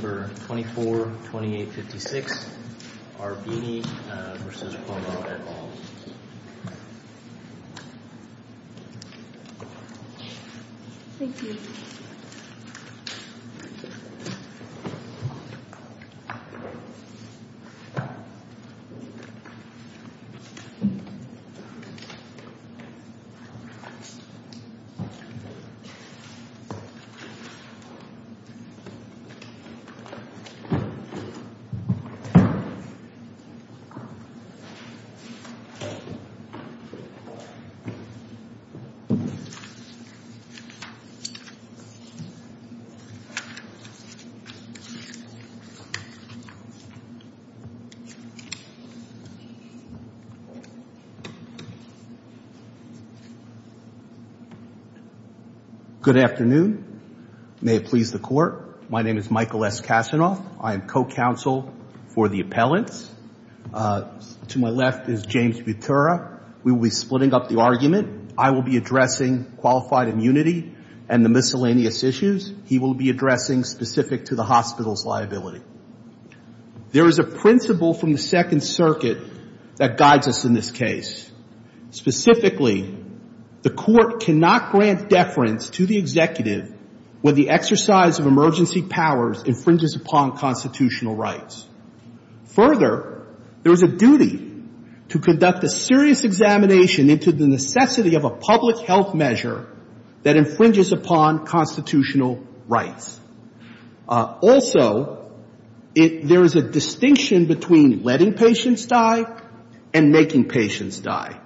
at all. Thank you. Good afternoon. May it please the Court. My name is Michael S. Kasanoff. I am co-counsel for the appellants. To my left is James Butera. We will be splitting up the argument. I will be addressing qualified immunity and the miscellaneous issues. He will be addressing specific to the hospital's liability. There is a principle from the Second Circuit that guides us in this case. Specifically, the Court cannot grant deference to the executive when the exercise of emergency powers infringes upon constitutional rights. Further, there is a duty to conduct a serious examination into the necessity of a public health measure that infringes upon constitutional rights. Also, there is a distinction between letting patients die and making patients die.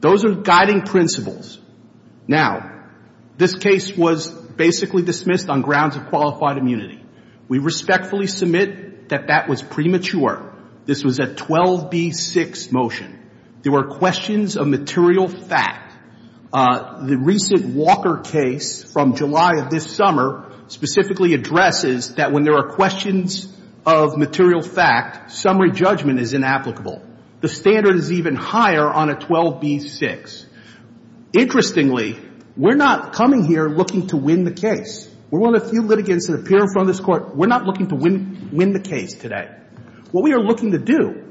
Those are guiding principles. Now, this case was basically dismissed on grounds of qualified immunity. We respectfully submit that that was premature. This was a 12B6 motion. There were questions of material fact. The recent Walker case from July of this summer specifically addresses that when there are questions of material fact, summary judgment is inapplicable. The standard is even higher on a 12B6. Interestingly, we're not coming here looking to win the case. We're one of the few litigants that appear in front of this Court. We're not looking to win the case today. What we are looking to do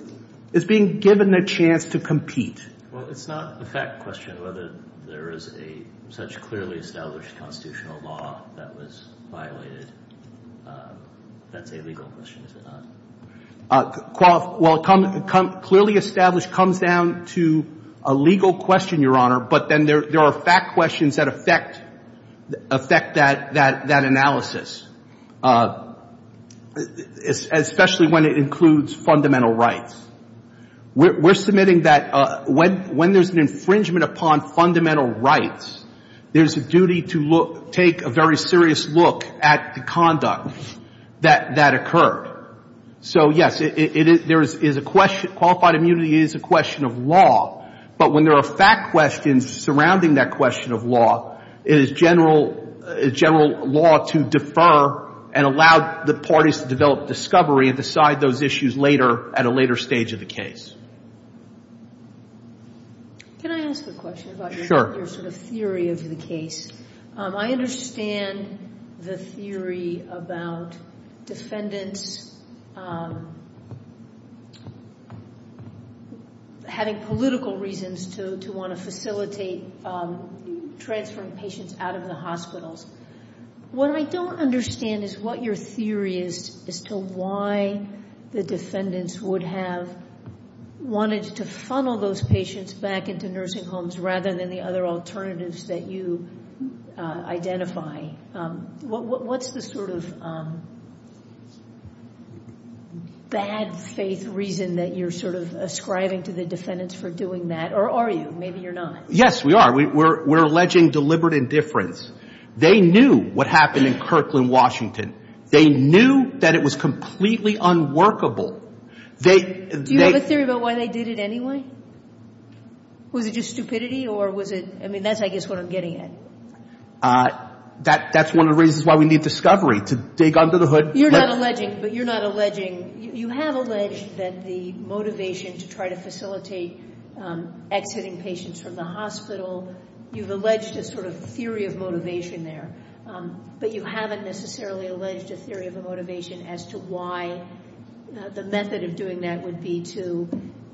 is being given a chance to compete. Well, it's not a fact question whether there is a such clearly established constitutional law that was violated. That's a legal question, is it not? Well, clearly established comes down to a legal question, Your Honor. But then there are fact questions that affect that analysis, especially when it includes fundamental rights. We're submitting that when there's an infringement upon fundamental rights, there's a duty to take a very serious look at the conduct that occurred. So, yes, qualified immunity is a question of law. But when there are fact questions surrounding that question of law, it is general law to defer and allow the parties to develop discovery and decide those issues later at a later stage of the case. Can I ask a question about your sort of theory of the case? I understand the theory about defendants having political reasons to want to facilitate transferring patients out of the hospitals. What I don't understand is what your theory is as to why the defendants would have wanted to funnel those patients back into nursing homes rather than the other alternatives that you identify. What's the sort of bad faith reason that you're sort of ascribing to the defendants for doing that? Or are you? Maybe you're not. Yes, we are. We're alleging deliberate indifference. They knew what happened in Kirkland, Washington. They knew that it was completely unworkable. Do you have a theory about why they did it anyway? Was it just stupidity or was it... I mean, that's, I guess, what I'm getting at. That's one of the reasons why we need discovery, to dig under the hood. You're not alleging, but you're not alleging... You have alleged that the motivation to try to facilitate exiting patients from the hospital, you've alleged a sort of theory of motivation there. But you haven't necessarily alleged a theory of a motivation as to why the method of doing that would be to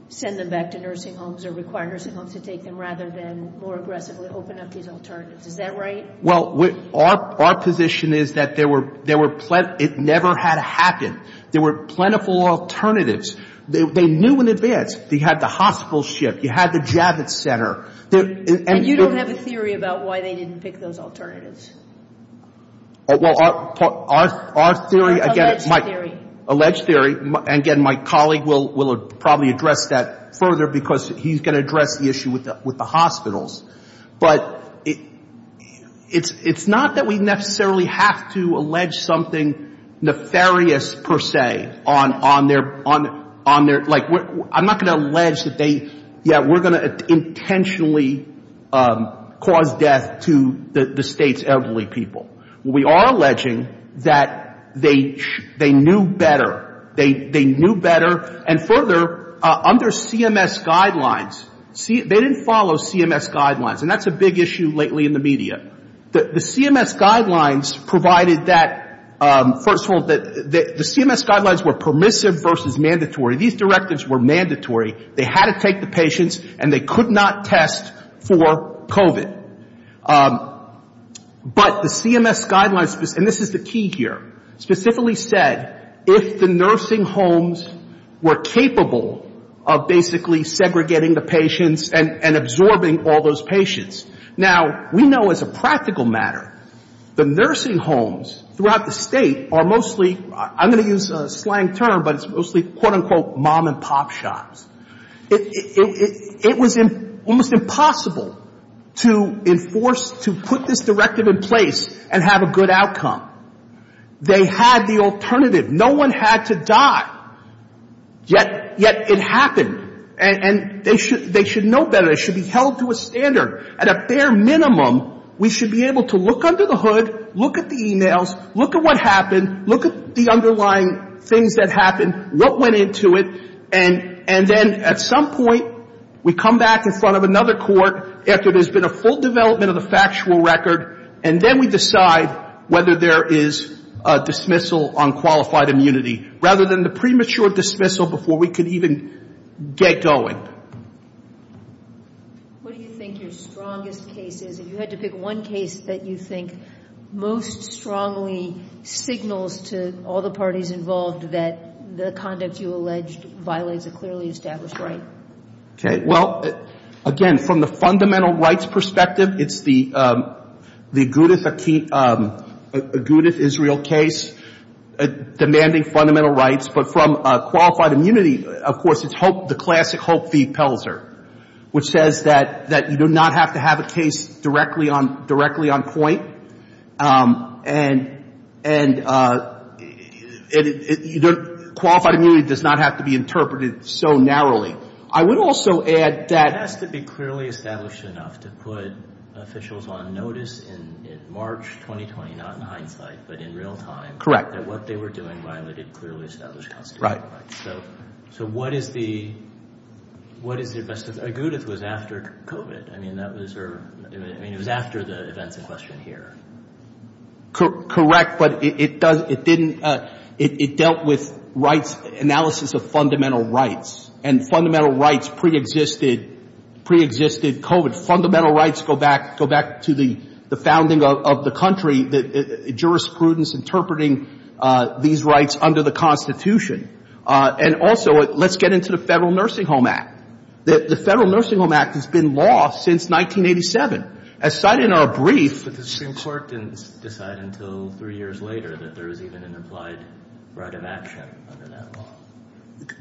send them back to nursing homes or require nursing homes to take them rather than more aggressively open up these alternatives. Is that right? Well, our position is that it never had to happen. There were plentiful alternatives. They knew in advance. You had the hospital shift. You had the Javits Center. And you don't have a theory about why they didn't pick those alternatives? Well, our theory... Alleged theory. Alleged theory. Again, my colleague will probably address that further because he's going to address the issue with the hospitals. But it's not that we necessarily have to allege something nefarious, per se, on their... Like, I'm not going to allege that they... Yeah, we're going to intentionally cause death to the state's elderly people. We are alleging that they knew better. They knew better. And further, under CMS guidelines, they didn't follow CMS guidelines. And that's a big issue lately in the media. The CMS guidelines provided that... First of all, the CMS guidelines were permissive versus mandatory. These directives were mandatory. They had to take the patients and they could not test for COVID. But the CMS guidelines, and this is the key here, specifically said if the nursing homes were capable of basically segregating the patients and absorbing all those patients. Now, we know as a practical matter, the nursing homes throughout the state are mostly, I'm going to use a slang term, but it's mostly, quote, unquote, mom and pop shops. It was almost impossible to enforce, to put this directive in place and have a good outcome. They had the alternative. No one had to die. Yet it happened. And they should know better. They should be held to a standard. At a fair minimum, we should be able to look under the hood, look at the emails, look at what happened, look at the underlying things that happened, what went into it. And then at some point, we come back in front of another court after there's been a full development of the factual record. And then we decide whether there is a dismissal on qualified immunity, rather than the premature dismissal before we could even get going. What do you think your strongest case is? If you had to pick one case that you think most strongly signals to all the parties involved that the conduct you alleged violates a clearly established right. Okay. Well, again, from the fundamental rights perspective, it's the Agudith Israel case demanding fundamental rights. But from qualified immunity, of course, it's the classic Hope v. Pelser, which says that you do not have to have a case directly on point. And qualified immunity does not have to be interpreted so narrowly. I would also add that. It has to be clearly established enough to put officials on notice in March 2020, not in hindsight, but in real time. Correct. That what they were doing violated clearly established constitutional rights. So what is the best of... Agudith was after COVID. I mean, it was after the events in question here. Correct. But it dealt with analysis of fundamental rights. And fundamental rights pre-existed COVID. Fundamental rights go back to the founding of the country. The jurisprudence interpreting these rights under the Constitution. And also, let's get into the Federal Nursing Home Act. The Federal Nursing Home Act has been law since 1987. As cited in our brief... But the Supreme Court didn't decide until three years later that there was even an implied right of action under that law.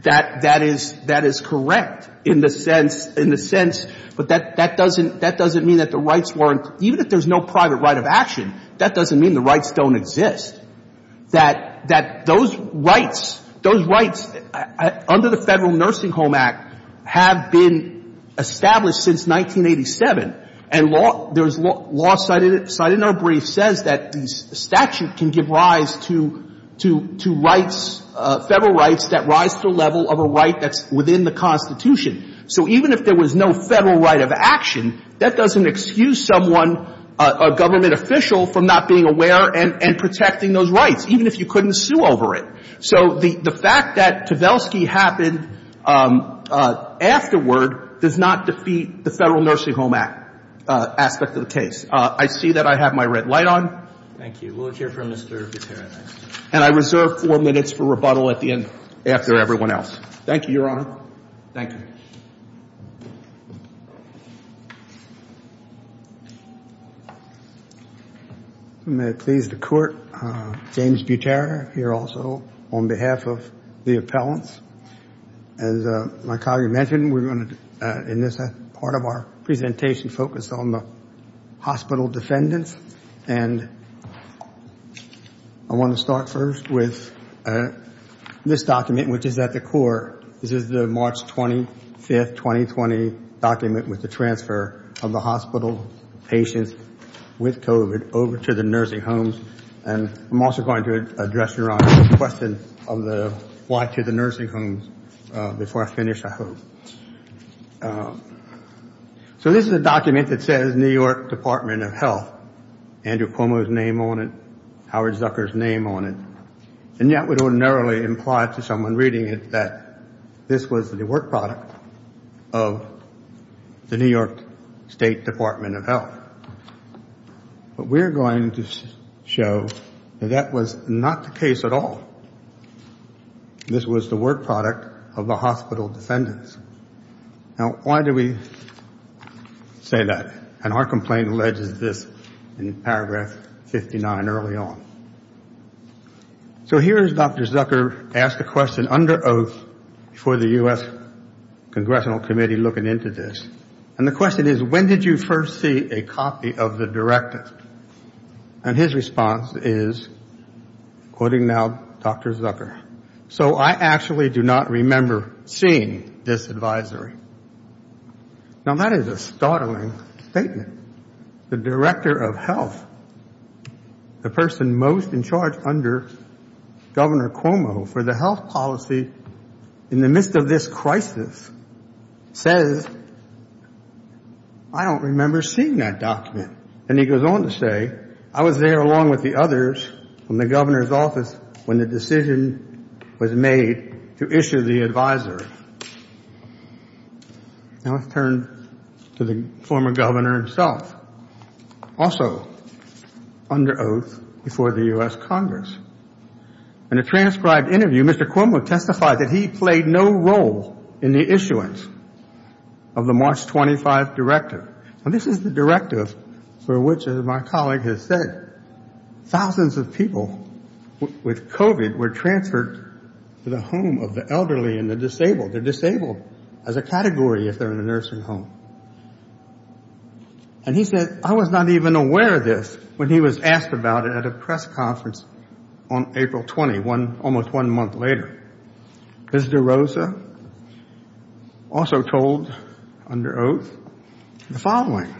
That is correct, in the sense, but that doesn't mean that the rights weren't... Even if there's no private right of action, that doesn't mean the rights don't exist. That those rights, those rights under the Federal Nursing Home Act have been established since 1987. And law cited in our brief says that the statute can give rise to rights, federal rights that rise to a level of a right that's within the Constitution. So even if there was no federal right of action, that doesn't excuse someone, a government official, from not being aware and protecting those rights, even if you couldn't sue over it. So the fact that Tversky happened afterward does not defeat the Federal Nursing Home Act aspect of the case. I see that I have my red light on. Thank you. We'll hear from Mr. Katerina. And I reserve four minutes for rebuttal at the end after everyone else. Thank you, Your Honor. Thank you. May it please the court, James Butera, here also on behalf of the appellants. As my colleague mentioned, we're going to, in this part of our presentation, focus on the hospital defendants. And I want to start first with this document, which is at the core. This is the March 25th, 2020 document with the transfer of the hospital patients with COVID over to the nursing homes. And I'm also going to address, Your Honor, the question of the why to the nursing homes before I finish, I hope. So this is a document that says New York Department of Health, Andrew Cuomo's name on it, Howard Zucker's name on it. And that would ordinarily imply to someone reading it that this was the work product of the New York State Department of Health. But we're going to show that that was not the case at all. This was the work product of the hospital defendants. Now, why do we say that? And our complaint alleges this in paragraph 59 early on. So here is Dr. Zucker asked a question under oath for the U.S. Congressional Committee looking into this. And the question is, when did you first see a copy of the directive? And his response is, quoting now Dr. Zucker, so I actually do not remember seeing this advisory. Now, that is a startling statement. The director of health, the person most in charge under Governor Cuomo for the health policy in the midst of this crisis, says, I don't remember seeing that document. And he goes on to say, I was there along with the others from the governor's office when the decision was made to issue the advisory. Now, let's turn to the former governor himself, also under oath before the U.S. Congress. In a transcribed interview, Mr. Cuomo testified that he played no role in the issuance of the March 25 directive. And this is the directive for which, as my colleague has said, thousands of people with COVID were transferred to the home of the elderly and the disabled. They're disabled as a category if they're in a nursing home. And he said, I was not even aware of this when he was asked about it at a press conference on April 21, almost one month later. Ms. DeRosa also told, under oath, the following.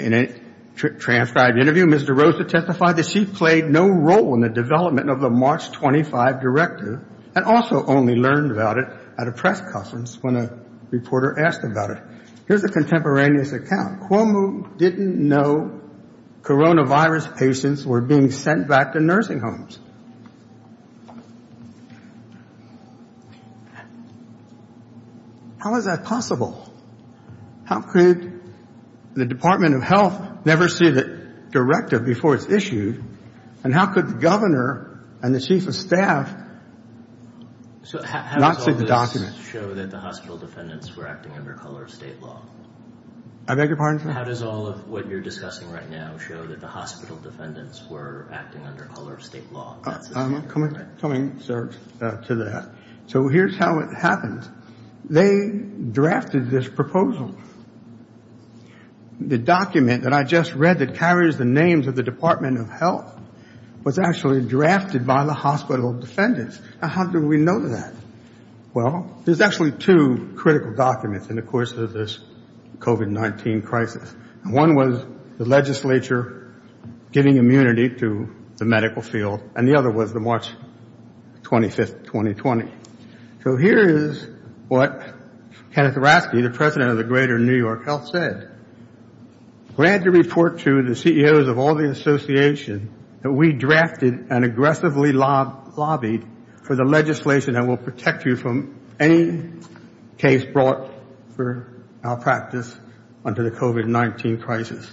In a transcribed interview, Ms. DeRosa testified that she played no role in the development of the March 25 directive and also only learned about it at a press conference when a reporter asked about it. Here's a contemporaneous account. Cuomo didn't know coronavirus patients were being sent back to nursing homes. How is that possible? How could the Department of Health never see the directive before it's issued? And how could the governor and the chief of staff not see the document? So how does all of this show that the hospital defendants were acting under color of state law? I beg your pardon, sir? How does all of what you're discussing right now show that the hospital defendants were acting under color of state law? I'm not coming, sir, to that. So here's how it happened. They drafted this proposal. The document that I just read that carries the names of the Department of Health was actually drafted by the hospital defendants. Now, how do we know that? Well, there's actually two critical documents in the course of this COVID-19 crisis. One was the legislature giving immunity to the medical field, and the other was the March 25th, 2020. So here is what Kenneth Hrasky, the president of the Greater New York Health, said. We had to report to the CEOs of all the associations that we drafted and aggressively lobbied for the legislation that will protect you from any case brought for our practice under the COVID-19 crisis.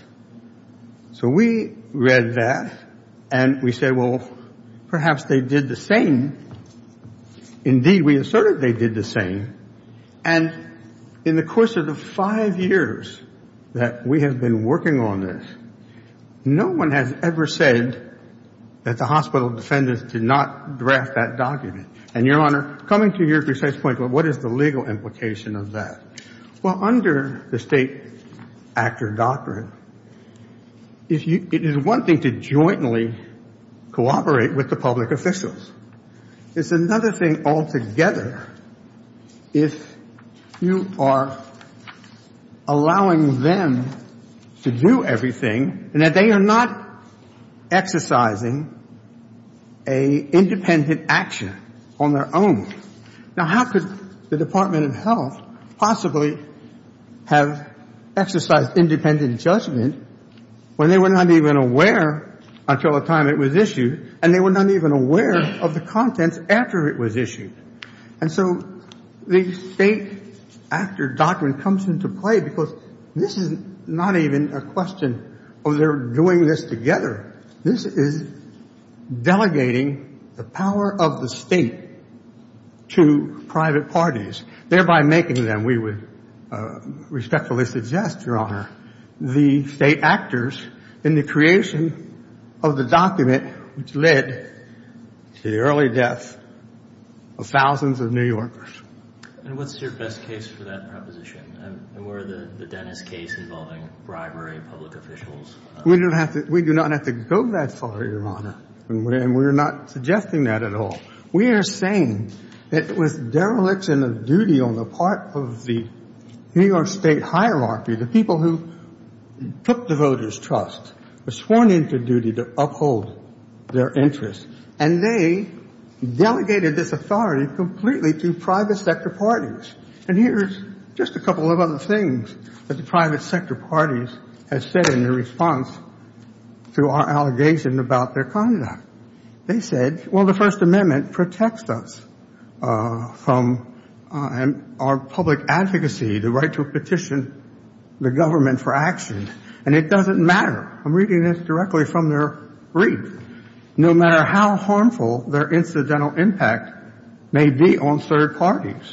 So we read that, and we said, well, perhaps they did the same. Indeed, we asserted they did the same. And in the course of the five years that we have been working on this, no one has ever said that the hospital defendants did not draft that document. And, Your Honor, coming to your precise point, what is the legal implication of that? Well, under the state actor doctrine, it is one thing to jointly cooperate with the public officials. It's another thing altogether if you are allowing them to do everything and that they are not exercising an independent action on their own. Now, how could the Department of Health possibly have exercised independent judgment when they were not even aware until the time it was issued and they were not even aware of the contents after it was issued? And so the state actor doctrine comes into play because this is not even a question of their doing this together. This is delegating the power of the state to private parties, thereby making them, we would respectfully suggest, Your Honor, the state actors in the creation of the document which led to the early death of thousands of New Yorkers. And what's your best case for that proposition? And were the Dennis case involving bribery of public officials? We do not have to go that far, Your Honor, and we're not suggesting that at all. We are saying that with dereliction of duty on the part of the New York state hierarchy, the people who took the voters' trust were sworn into duty to uphold their interests. And they delegated this authority completely to private sector parties. And here's just a couple of other things that the private sector parties have said in response to our allegation about their conduct. They said, Well, the First Amendment protects us from our public advocacy, the right to petition the government for action. And it doesn't matter. I'm reading this directly from their brief. No matter how harmful their incidental impact may be on third parties.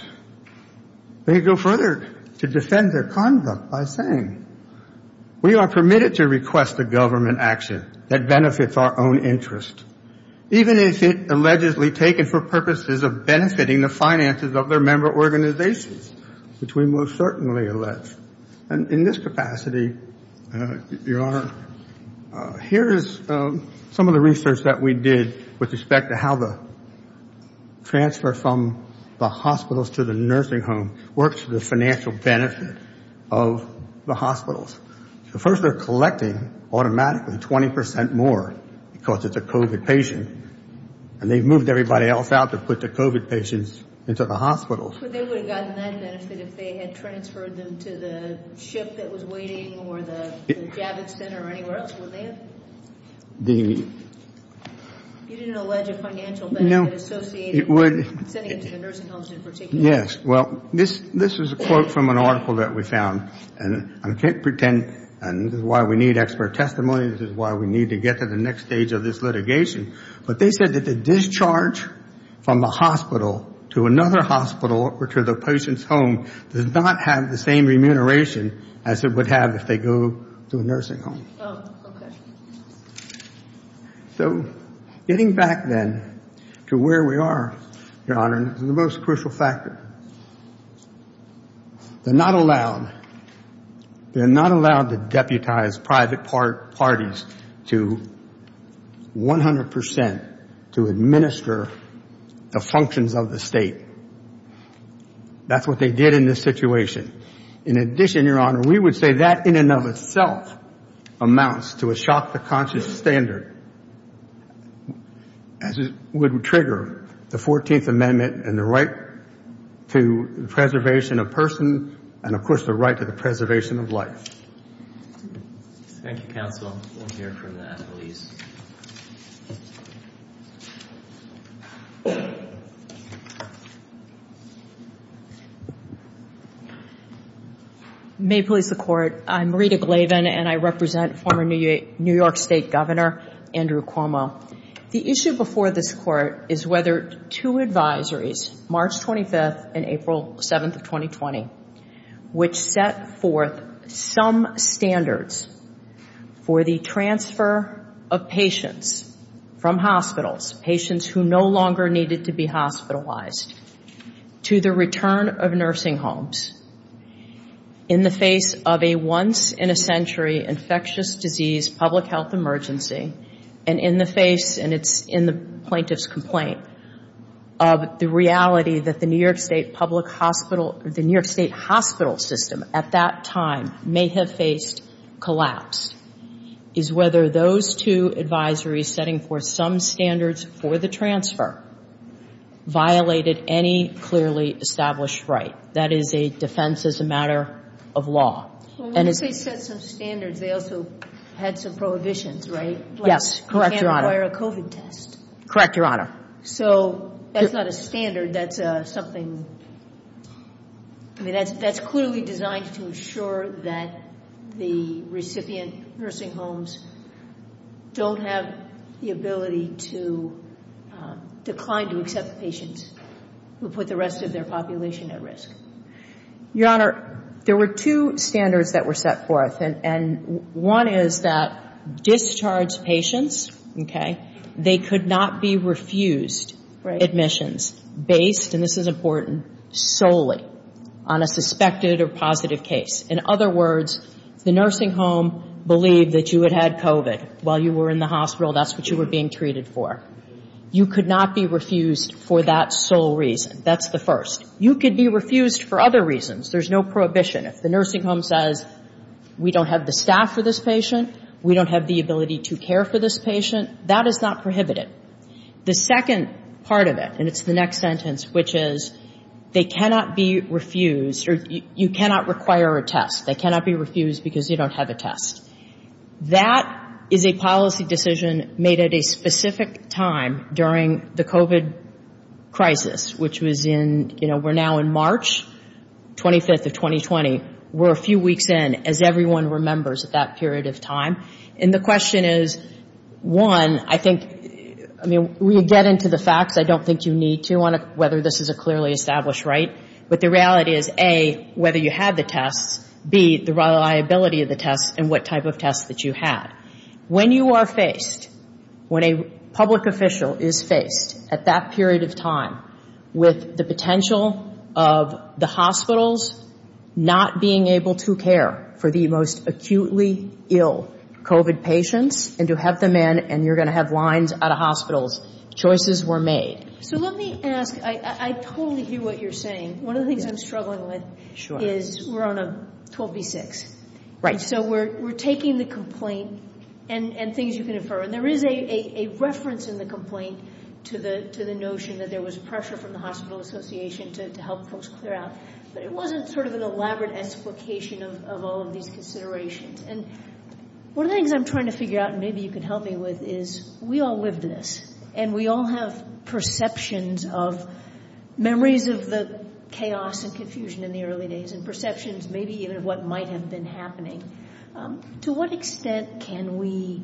They go further to defend their conduct by saying, We are permitted to request a government action that benefits our own interest, even if it allegedly taken for purposes of benefiting the finances of their member organizations, which we most certainly allege. And in this capacity, Your Honor, here is some of the research that we did with respect to how the transfer from the hospitals to the nursing home works for the financial benefit of the hospitals. First, they're collecting automatically 20 percent more because it's a COVID patient. And they've moved everybody else out to put the COVID patients into the hospitals. They would have gotten that benefit if they had transferred them to the ship that was waiting or the Javits Center or anywhere else, wouldn't they have? You didn't allege a financial benefit associated with sending them to the nursing homes in particular. Yes. Well, this is a quote from an article that we found. And I can't pretend, and this is why we need expert testimony, this is why we need to get to the next stage of this litigation. But they said that the discharge from the hospital to another hospital or to the patient's home does not have the same remuneration as it would have if they go to a nursing home. So getting back then to where we are, Your Honor, the most crucial factor. They're not allowed, they're not allowed to deputize private parties to 100 percent to administer the functions of the state. That's what they did in this situation. In addition, Your Honor, we would say that in and of itself amounts to a shock to the conscious standard. As it would trigger the 14th Amendment and the right to the preservation of persons and of course the right to the preservation of life. Thank you, counsel. We'll hear from the attorneys. May it please the Court. I'm Rita Glavin and I represent former New York State Governor. Andrew Cuomo. The issue before this Court is whether two advisories, March 25th and April 7th of 2020, which set forth some standards for the transfer of patients from hospitals, patients who no longer needed to be hospitalized, to the return of nursing homes in the face of a once-in-a-century infectious disease public health emergency and in the face, and it's in the plaintiff's complaint, of the reality that the New York State public hospital, the New York State hospital system at that time may have faced collapse, is whether those two advisories setting forth some standards for the transfer violated any clearly established right. That is a defense as a matter of law. Well, once they set some standards, they also had some prohibitions, right? Yes. Correct, Your Honor. You can't require a COVID test. Correct, Your Honor. So that's not a standard. That's something, I mean, that's clearly designed to ensure that the recipient nursing homes don't have the ability to decline to accept patients who put the rest of their population at risk. Your Honor, there were two standards that were set forth, and one is that discharge patients, okay, they could not be refused admissions based, and this is important, solely on a suspected or positive case. In other words, the nursing home believed that you had had COVID while you were in the hospital. That's what you were being treated for. You could not be refused for that sole reason. That's the first. You could be refused for other reasons. There's no prohibition. If the nursing home says, we don't have the staff for this patient, we don't have the ability to care for this patient, that is not prohibited. The second part of it, and it's the next sentence, which is they cannot be refused, or you cannot require a test. They cannot be refused because you don't have a test. That is a policy decision made at a specific time during the COVID crisis, which was in, you know, we're now in March 25th of 2020. We're a few weeks in, as everyone remembers, at that period of time. And the question is, one, I think, I mean, we get into the facts. I don't think you need to on whether this is a clearly established right. But the reality is, A, whether you had the tests, B, the reliability of the tests, and what type of tests that you had. When you are faced, when a public official is faced at that period of time with the potential of the hospitals not being able to care for the most acutely ill COVID patients, and to have them in, and you're going to have lines out of hospitals, choices were made. So let me ask, I totally hear what you're saying. One of the things I'm struggling with is we're on a 12B6. Right. So we're taking the complaint and things you can infer. And there is a reference in the complaint to the notion that there was pressure from the hospital association to help folks clear out. But it wasn't sort of an elaborate explication of all of these considerations. And one of the things I'm trying to figure out, and maybe you can help me with, is we all lived this, and we all have perceptions of memories of the chaos and confusion in the early days, and perceptions maybe even of what might have been happening. To what extent can we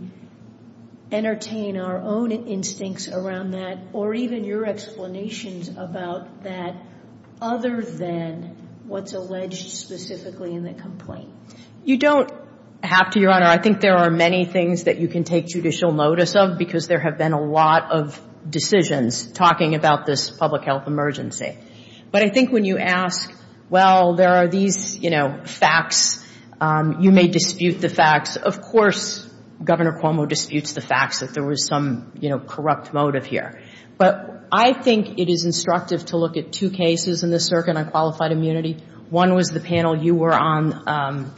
entertain our own instincts around that, or even your explanations about that, other than what's alleged specifically in the complaint? You don't have to, Your Honor. I think there are many things that you can take judicial notice of, because there have been a lot of decisions talking about this public health emergency. But I think when you ask, well, there are these, you know, facts, you may dispute the facts. Of course, Governor Cuomo disputes the facts that there was some, you know, corrupt motive here. But I think it is instructive to look at two cases in this circuit on qualified immunity. One was the panel. You were on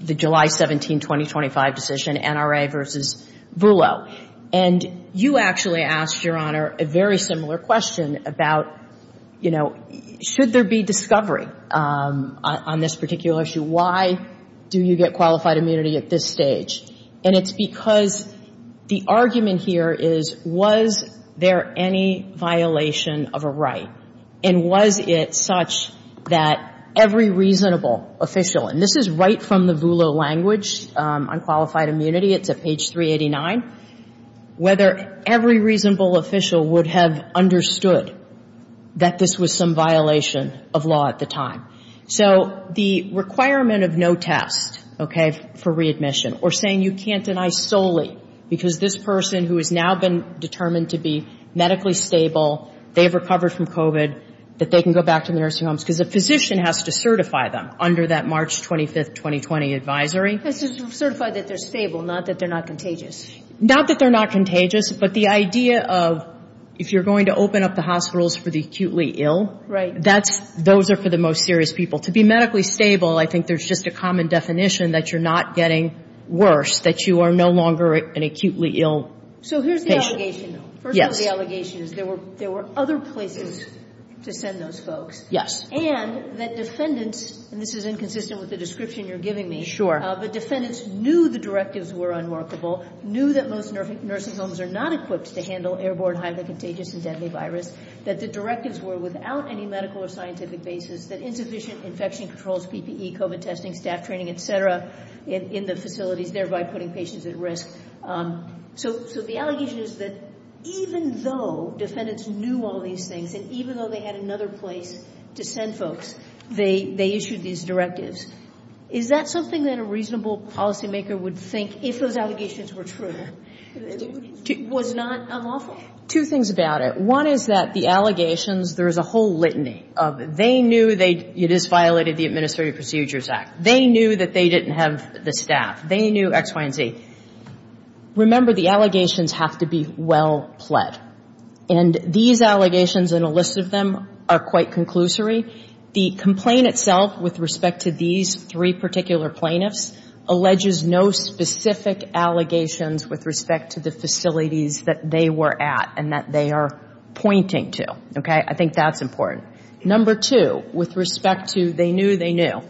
the July 17, 2025 decision, NRA versus VULO. And you actually asked, Your Honor, a very similar question about, you know, should there be discovery on this particular issue? Why do you get qualified immunity at this stage? And it's because the argument here is, was there any violation of a right? And was it such that every reasonable official, and this is right from the VULO language on qualified immunity, it's at page 389, whether every reasonable official would have understood that this was some violation of law at the time. So the requirement of no test, okay, for readmission, or saying you can't deny solely, because this person who has now been determined to be medically stable, they've recovered from COVID, that they can go back to the nursing homes, because a physician has to certify them under that March 25, 2020 advisory. Has to certify that they're stable, not that they're not contagious. Not that they're not contagious, but the idea of if you're going to open up the hospitals for the acutely ill, those are for the most serious people. To be medically stable, I think there's just a common definition that you're not getting worse, that you are no longer an acutely ill patient. So here's the allegation, though. Yes. First of all, the allegation is there were other places to send those folks. Yes. And that defendants, and this is inconsistent with the description you're giving me, but defendants knew the directives were unworkable, knew that most nursing homes are not equipped to handle airborne, highly contagious, and deadly virus, that the directives were without any medical or scientific basis, that insufficient infection controls, PPE, COVID testing, staff training, et cetera, in the facilities, thereby putting patients at risk. So the allegation is that even though defendants knew all these things, and even though they had another place to send folks, they issued these directives. Is that something that a reasonable policymaker would think, if those allegations were true, was not unlawful? Two things about it. One is that the allegations, there is a whole litany of they knew it is violated the Administrative Procedures Act. They knew that they didn't have the staff. They knew X, Y, and Z. Remember, the allegations have to be well pled. And these allegations and a list of them are quite conclusory. The complaint itself, with respect to these three particular plaintiffs, alleges no specific allegations with respect to the facilities that they were at and that they are pointing to. Okay? I think that's important. Number two, with respect to they knew, they knew.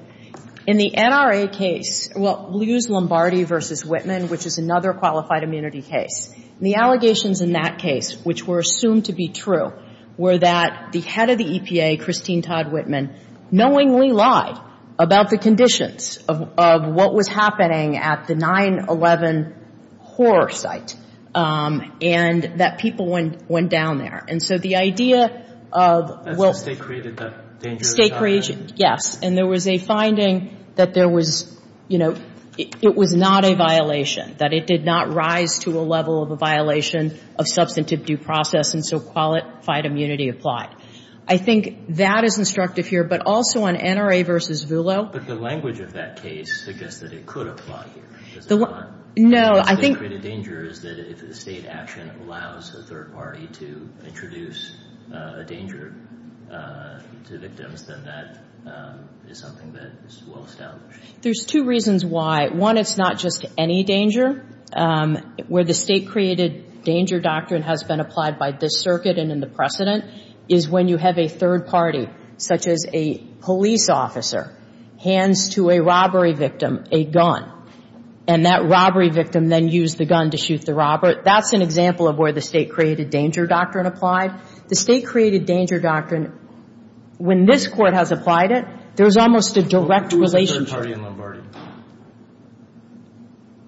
In the NRA case, well, we'll use Lombardi v. Whitman, which is another qualified immunity case. And the allegations in that case, which were assumed to be true, were that the head of the EPA, Christine Todd Whitman, knowingly lied about the conditions of what was happening at the 9-11 horror site and that people went down there. And so the idea of, well — That's what state created that danger of the 9-11. State created, yes. And there was a finding that there was, you know, it was not a violation, that it did not rise to a level of a violation of substantive due process, and so qualified immunity applied. I think that is instructive here. But also on NRA v. Vulo — But the language of that case suggests that it could apply here. No, I think — State created danger is that if the state action allows a third party to introduce a danger to victims, then that is something that is well established. There's two reasons why. One, it's not just any danger. Where the state created danger doctrine has been applied by this circuit and in the precedent is when you have a third party, such as a police officer, hands to a robbery victim a gun, and that robbery victim then used the gun to shoot the robber. That's an example of where the state created danger doctrine applied. The state created danger doctrine, when this Court has applied it, there's almost a direct relationship. There wasn't a third party in Lombardi.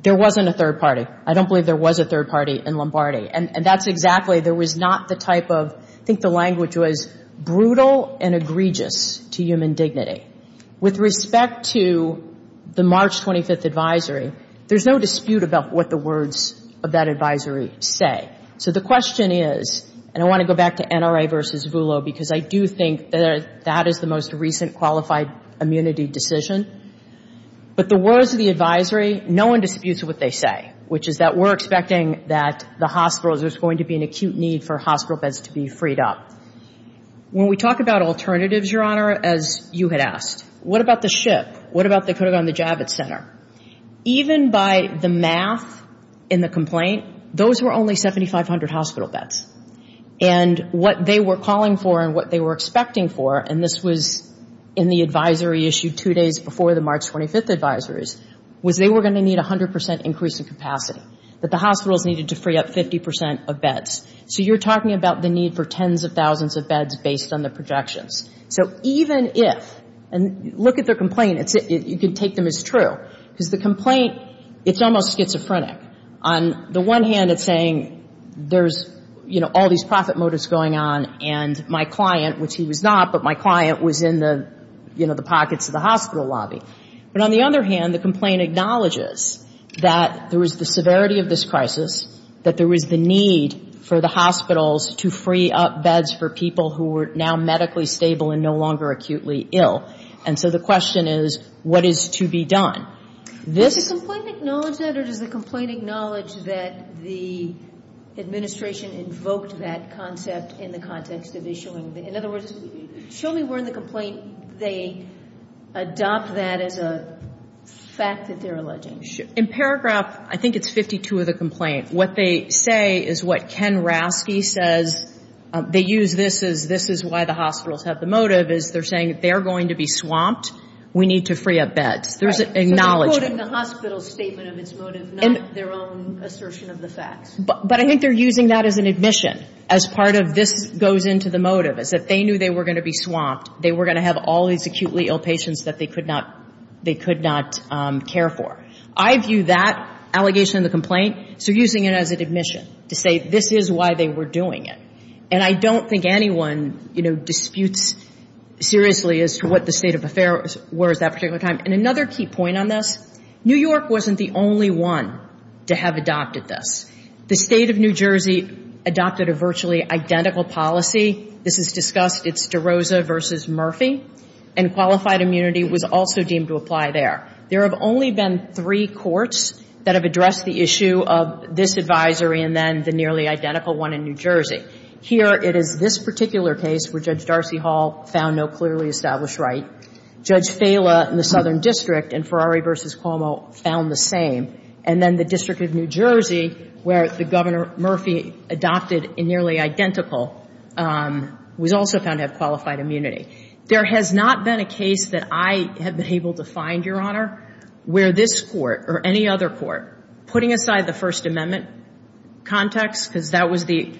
There wasn't a third party. I don't believe there was a third party in Lombardi. And that's exactly — there was not the type of — I think the language was brutal and egregious to human dignity. With respect to the March 25th advisory, there's no dispute about what the words of that advisory say. So the question is, and I want to go back to NRA versus VULO, because I do think that that is the most recent qualified immunity decision. But the words of the advisory, no one disputes what they say, which is that we're expecting that the hospitals, there's going to be an acute need for hospital beds to be freed up. When we talk about alternatives, Your Honor, as you had asked, what about the ship? What about they could have gone to Javits Center? Even by the math in the complaint, those were only 7,500 hospital beds. And what they were calling for and what they were expecting for, and this was in the advisory issued two days before the March 25th advisories, was they were going to need 100 percent increase in capacity, that the hospitals needed to free up 50 percent of beds. So you're talking about the need for tens of thousands of beds based on the projections. So even if, and look at the complaint, you can take them as true, because the complaint, it's almost schizophrenic. On the one hand, it's saying there's, you know, all these profit motives going on, and my client, which he was not, but my client was in the, you know, the pockets of the hospital lobby. But on the other hand, the complaint acknowledges that there was the severity of this crisis, that there was the need for the hospitals to free up beds for people who were now medically stable and no longer acutely ill. And so the question is, what is to be done? Does the complaint acknowledge that, or does the complaint acknowledge that the administration invoked that concept in the context of issuing? In other words, show me where in the complaint they adopt that as a fact that they're alleging. In paragraph, I think it's 52 of the complaint, what they say is what Ken Rasky says, they use this as this is why the hospitals have the motive, is they're saying they're going to be swamped, we need to free up beds. There's an acknowledgment. So they're quoting the hospital's statement of its motive, not their own assertion of the facts. But I think they're using that as an admission, as part of this goes into the motive, is that they knew they were going to be swamped, they were going to have all these acutely ill patients that they could not care for. I view that allegation in the complaint, so using it as an admission to say this is why they were doing it. And I don't think anyone, you know, disputes seriously as to what the state of affairs was that particular time. And another key point on this, New York wasn't the only one to have adopted this. The state of New Jersey adopted a virtually identical policy. This is discussed. It's DeRosa v. Murphy. And qualified immunity was also deemed to apply there. There have only been three courts that have addressed the issue of this advisory and then the nearly identical one in New Jersey. Here it is this particular case where Judge Darcy Hall found no clearly established right. Judge Fela in the Southern District in Ferrari v. Cuomo found the same. And then the District of New Jersey, where the Governor Murphy adopted a nearly identical, was also found to have qualified immunity. There has not been a case that I have been able to find, Your Honor, where this court or any other court, putting aside the First Amendment context, because that was the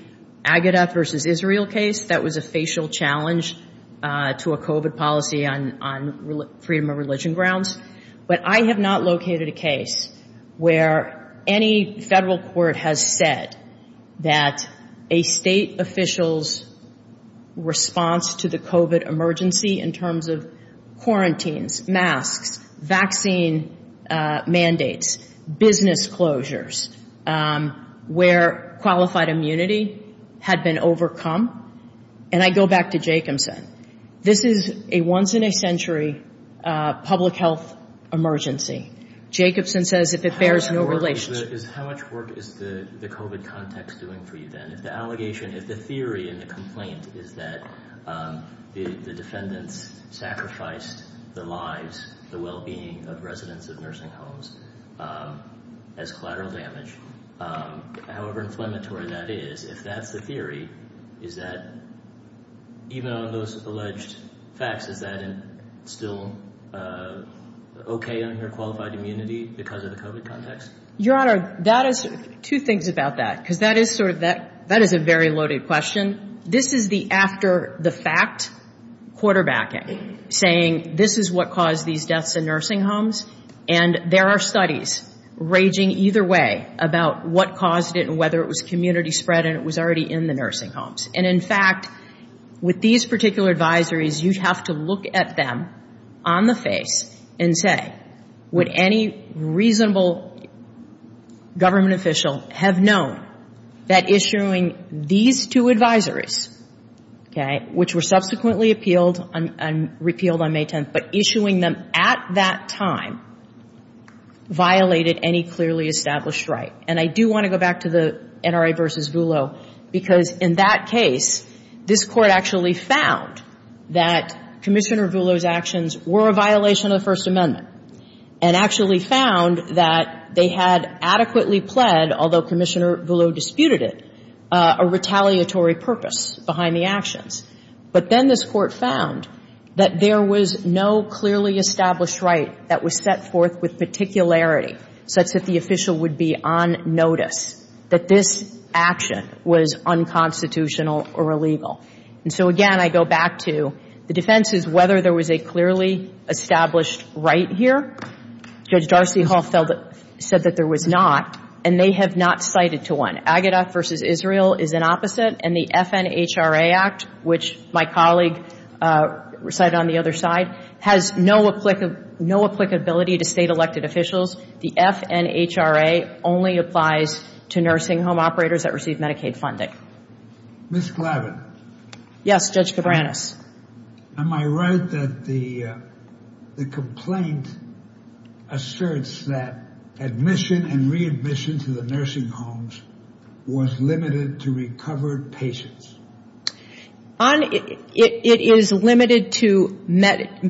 Agatha v. Israel case that was a facial challenge to a COVID policy on freedom of religion grounds. But I have not located a case where any federal court has said that a state official's response to the COVID emergency in terms of quarantines, masks, vaccine mandates, business closures, where qualified immunity had been overcome. And I go back to Jacobson. This is a once-in-a-century public health emergency. Jacobson says if it bears no relation. How much work is the COVID context doing for you then? If the allegation, if the theory and the complaint is that the defendants sacrificed the lives, the well-being of residents of nursing homes as collateral damage, however inflammatory that is, if that's the theory, is that even on those alleged facts, is that still okay under qualified immunity because of the COVID context? Your Honor, that is, two things about that, because that is sort of, that is a very loaded question. This is the after-the-fact quarterbacking, saying this is what caused these deaths in nursing homes. And there are studies raging either way about what caused it and whether it was community spread and it was already in the nursing homes. And, in fact, with these particular advisories, you have to look at them on the face and say, would any reasonable government official have known that issuing these two advisories, okay, which were subsequently appealed and repealed on May 10th, but issuing them at that time violated any clearly established right? And I do want to go back to the NRA v. Vullo, because in that case, this Court actually found that Commissioner Vullo's actions were a violation of the First Amendment and actually found that they had adequately pled, although Commissioner Vullo disputed it, a retaliatory purpose behind the actions. But then this Court found that there was no clearly established right that was set forth with particularity such that the official would be on notice that this action was unconstitutional or illegal. And so, again, I go back to the defense is whether there was a clearly established right here. Judge Darcy Hall said that there was not, and they have not cited to one. The Aged Act v. Israel is an opposite, and the FNHRA Act, which my colleague recited on the other side, has no applicability to state elected officials. The FNHRA only applies to nursing home operators that receive Medicaid funding. Ms. Glavin. Yes, Judge Cabranes. Am I right that the complaint asserts that admission and readmission to the nursing homes was limited to recovered patients? It is limited to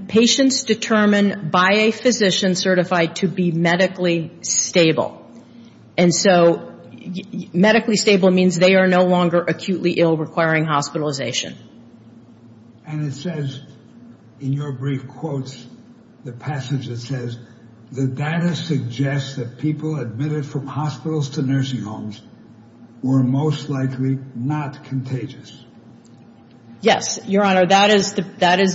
patients determined by a physician certified to be medically stable. And so medically stable means they are no longer acutely ill requiring hospitalization. And it says in your brief quotes, the passage that says, the data suggests that people admitted from hospitals to nursing homes were most likely not contagious. Yes, Your Honor, that has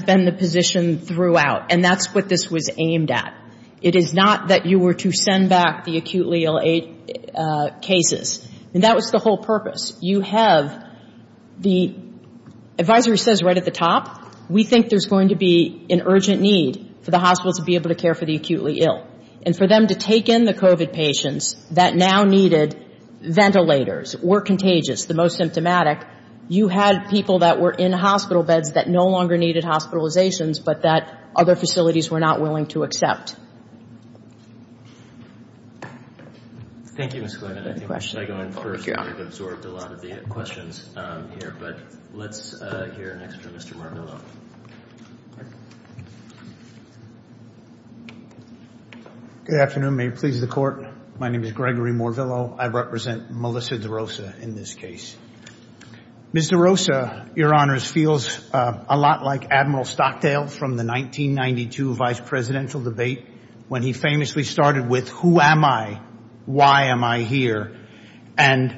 been the position throughout, and that's what this was aimed at. It is not that you were to send back the acutely ill cases. And that was the whole purpose. You have the advisory says right at the top, we think there's going to be an urgent need for the hospital to be able to care for the acutely ill. And for them to take in the COVID patients that now needed ventilators, were contagious, the most symptomatic, you had people that were in hospital beds that no longer needed hospitalizations but that other facilities were not willing to accept. Thank you, Ms. Clement. Should I go in first? I've absorbed a lot of the questions here. But let's hear next from Mr. Morvillo. Good afternoon. May it please the Court. My name is Gregory Morvillo. I represent Melissa DeRosa in this case. Ms. DeRosa, Your Honors, feels a lot like Admiral Stockdale from the 1992 vice presidential debate when he famously started with, who am I? Why am I here? And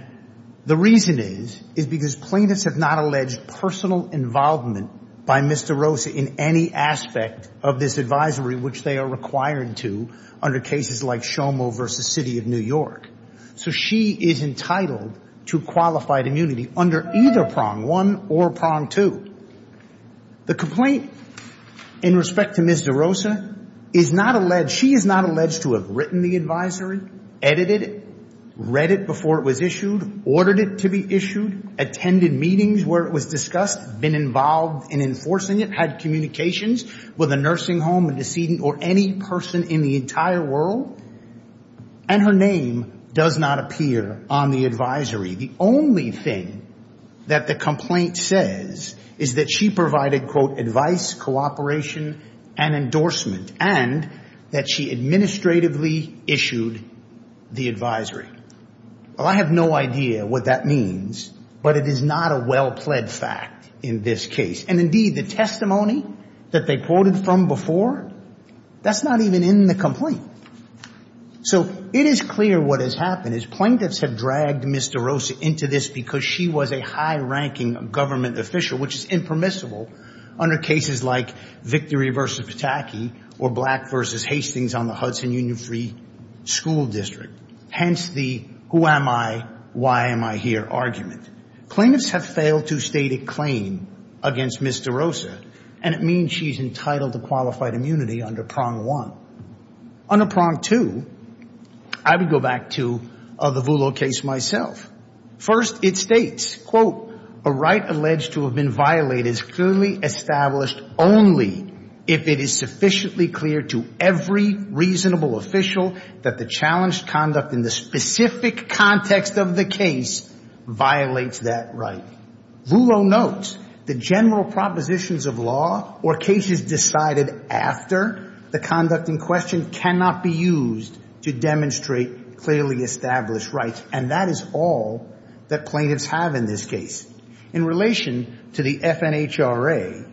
the reason is, is because plaintiffs have not alleged personal involvement by Ms. DeRosa in any aspect of this advisory, which they are required to under cases like Shomo v. City of New York. So she is entitled to qualified immunity under either prong one or prong two. The complaint in respect to Ms. DeRosa is not alleged. She is not alleged to have written the advisory, edited it, read it before it was issued, ordered it to be issued, attended meetings where it was discussed, been involved in enforcing it, had communications with a nursing home, a decedent, or any person in the entire world. And her name does not appear on the advisory. The only thing that the complaint says is that she provided, quote, advice, cooperation, and endorsement, and that she administratively issued the advisory. Well, I have no idea what that means, but it is not a well-pled fact in this case. And indeed, the testimony that they quoted from before, that's not even in the complaint. So it is clear what has happened is plaintiffs have dragged Ms. DeRosa into this because she was a high-ranking government official, which is impermissible under cases like Victory v. Pataki or Black v. Hastings on the Hudson Union Free School District, hence the who am I, why am I here argument. Plaintiffs have failed to state a claim against Ms. DeRosa, and it means she is entitled to qualified immunity under prong one. Under prong two, I would go back to the Vullo case myself. First, it states, quote, a right alleged to have been violated is clearly established only if it is sufficiently clear to every reasonable official that the challenged conduct in the specific context of the case violates that right. Vullo notes the general propositions of law or cases decided after the conduct in question cannot be used to demonstrate clearly established rights, and that is all that plaintiffs have in this case. In relation to the FNHRA,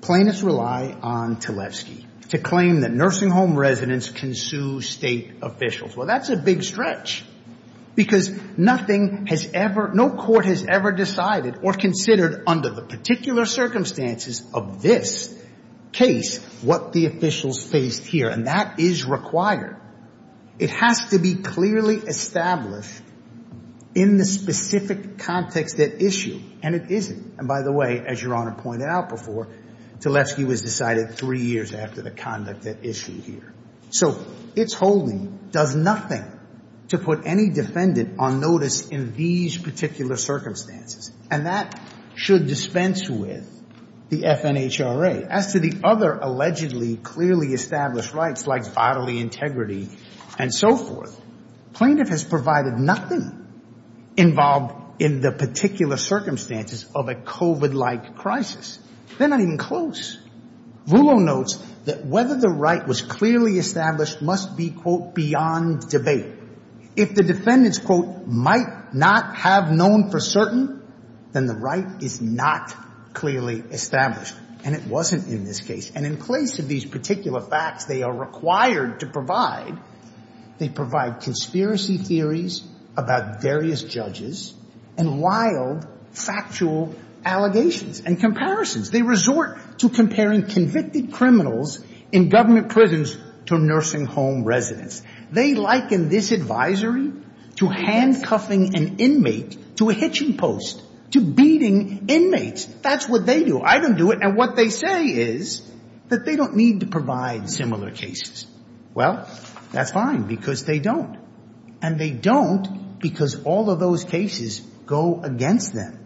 plaintiffs rely on Tlefsky to claim that nursing home residents can sue state officials. Well, that's a big stretch because nothing has ever, no court has ever decided or considered under the particular circumstances of this case what the officials faced here, and that is required. It has to be clearly established in the specific context at issue, and it isn't. And by the way, as Your Honor pointed out before, Tlefsky was decided three years after the conduct at issue here. So its holding does nothing to put any defendant on notice in these particular circumstances, and that should dispense with the FNHRA. As to the other allegedly clearly established rights like bodily integrity and so forth, plaintiff has provided nothing involved in the particular circumstances of a COVID-like crisis. They're not even close. Rouleau notes that whether the right was clearly established must be, quote, beyond debate. If the defendants, quote, might not have known for certain, then the right is not clearly established, and it wasn't in this case. And in place of these particular facts they are required to provide, they provide conspiracy theories about various judges and wild factual allegations and comparisons. They resort to comparing convicted criminals in government prisons to nursing home residents. They liken this advisory to handcuffing an inmate to a hitching post, to beating inmates. That's what they do. I don't do it. And what they say is that they don't need to provide similar cases. Well, that's fine because they don't, and they don't because all of those cases go against them.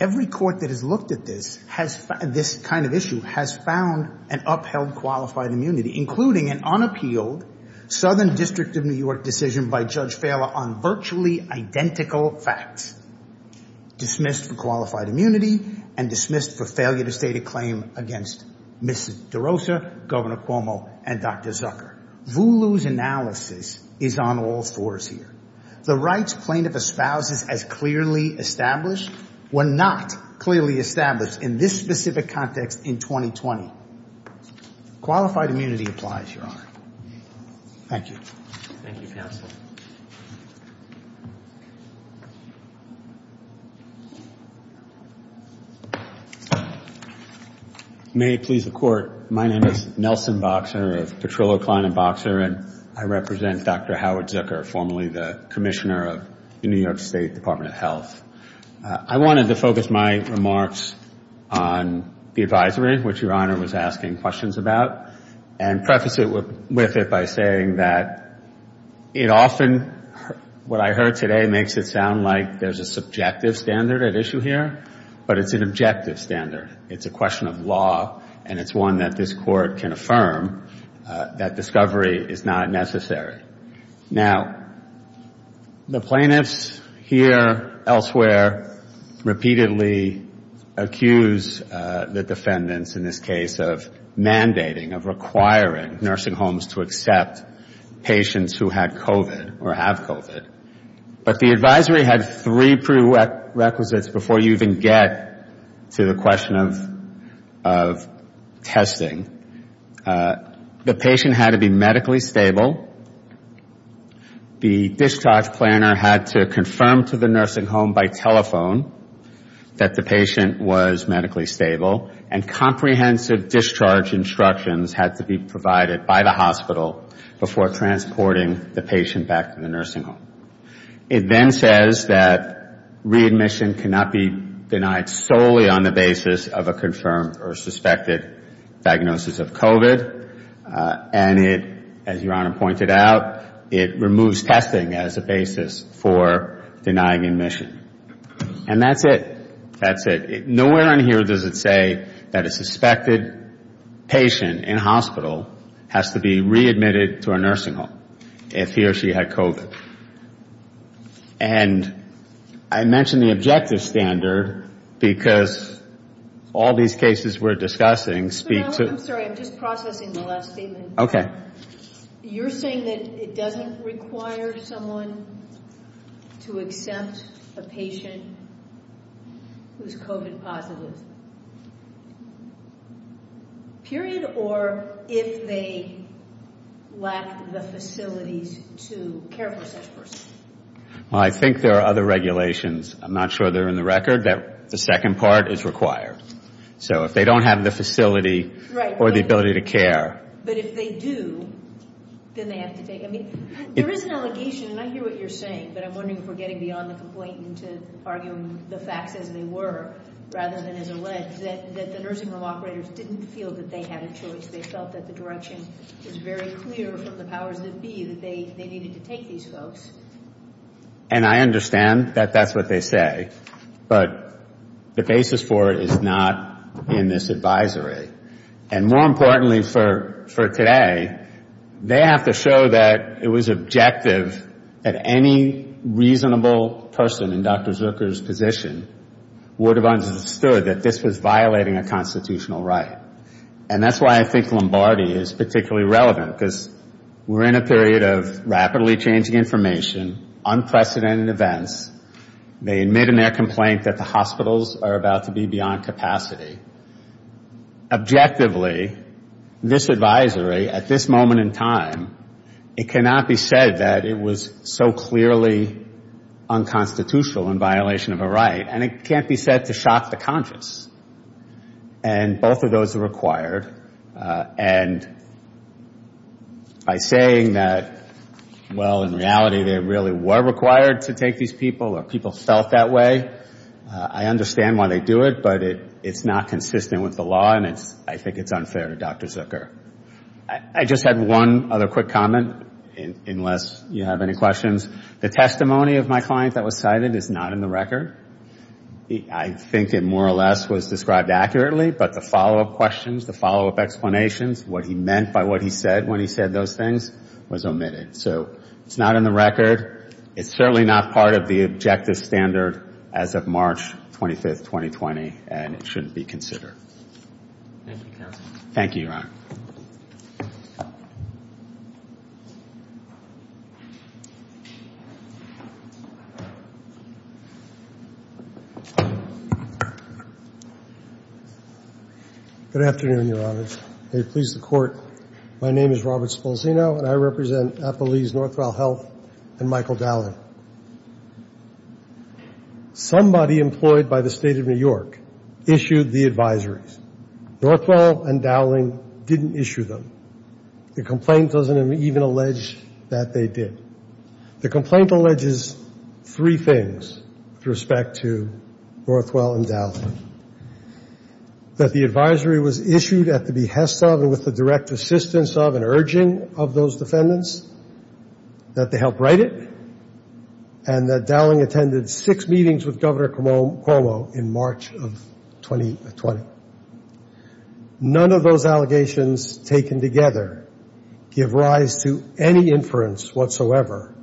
Every court that has looked at this kind of issue has found an upheld qualified immunity, including an unappealed Southern District of New York decision by Judge Failer on virtually identical facts, dismissed for qualified immunity and dismissed for failure to state a claim against Mrs. DeRosa, Governor Cuomo, and Dr. Zucker. Rouleau's analysis is on all fours here. The rights plaintiff espouses as clearly established were not clearly established in this specific context in 2020. Qualified immunity applies, Your Honor. Thank you. Thank you, counsel. May it please the Court. My name is Nelson Boxer of Petrillo, Klein & Boxer, and I represent Dr. Howard Zucker, formerly the commissioner of the New York State Department of Health. I wanted to focus my remarks on the advisory, which Your Honor was asking questions about, and preface it with it by saying that it often, what I heard today, makes it sound like there's a subjective standard at issue here, but it's an objective standard. It's a question of law, and it's one that this Court can affirm that discovery is not necessary. Now, the plaintiffs here, elsewhere, repeatedly accuse the defendants in this case of mandating, of requiring nursing homes to accept patients who had COVID or have COVID. But the advisory had three prerequisites before you even get to the question of testing. The patient had to be medically stable. The discharge planner had to confirm to the nursing home by telephone that the patient was medically stable, and comprehensive discharge instructions had to be provided by the hospital before transporting the patient back to the nursing home. It then says that readmission cannot be denied solely on the basis of a confirmed or suspected diagnosis of COVID, and it, as Your Honor pointed out, it removes testing as a basis for denying admission. And that's it. That's it. Nowhere on here does it say that a suspected patient in a hospital has to be readmitted to a nursing home if he or she had COVID. And I mentioned the objective standard because all these cases we're discussing speak to I'm sorry, I'm just processing the last statement. Okay. Your Honor, you're saying that it doesn't require someone to accept a patient who's COVID positive, period, or if they lack the facilities to care for such person? Well, I think there are other regulations. I'm not sure they're in the record. The second part is required. So if they don't have the facility or the ability to care. But if they do, then they have to take. I mean, there is an allegation, and I hear what you're saying, but I'm wondering if we're getting beyond the complaint into arguing the facts as they were, rather than as alleged, that the nursing home operators didn't feel that they had a choice. They felt that the direction was very clear from the powers that be that they needed to take these folks. And I understand that that's what they say, but the basis for it is not in this advisory. And more importantly for today, they have to show that it was objective that any reasonable person in Dr. Zucker's position would have understood that this was violating a constitutional right. And that's why I think Lombardi is particularly relevant, because we're in a period of rapidly changing information, unprecedented events. They admit in their complaint that the hospitals are about to be beyond capacity. Objectively, this advisory at this moment in time, it cannot be said that it was so clearly unconstitutional in violation of a right. And it can't be said to shock the conscious. And both of those are required. And by saying that, well, in reality, they really were required to take these people or people felt that way, I understand why they do it, but it's not consistent with the law, and I think it's unfair to Dr. Zucker. I just had one other quick comment, unless you have any questions. The testimony of my client that was cited is not in the record. I think it more or less was described accurately, but the follow-up questions, the follow-up explanations, what he meant by what he said when he said those things was omitted. So it's not in the record. It's certainly not part of the objective standard as of March 25, 2020, and it shouldn't be considered. Thank you, counsel. Thank you, Your Honor. Good afternoon, Your Honor. May it please the Court, my name is Robert Spolzino, and I represent Applebee's Northwell Health and Michael Dowling. Somebody employed by the State of New York issued the advisories. Northwell and Dowling didn't issue them. The complaint doesn't even allege that they did. The complaint alleges three things with respect to Northwell and Dowling, that the advisory was issued at the behest of and with the direct assistance of and urging of those defendants, that they helped write it, and that Dowling attended six meetings with Governor Cuomo in March of 2020. None of those allegations taken together give rise to any inference whatsoever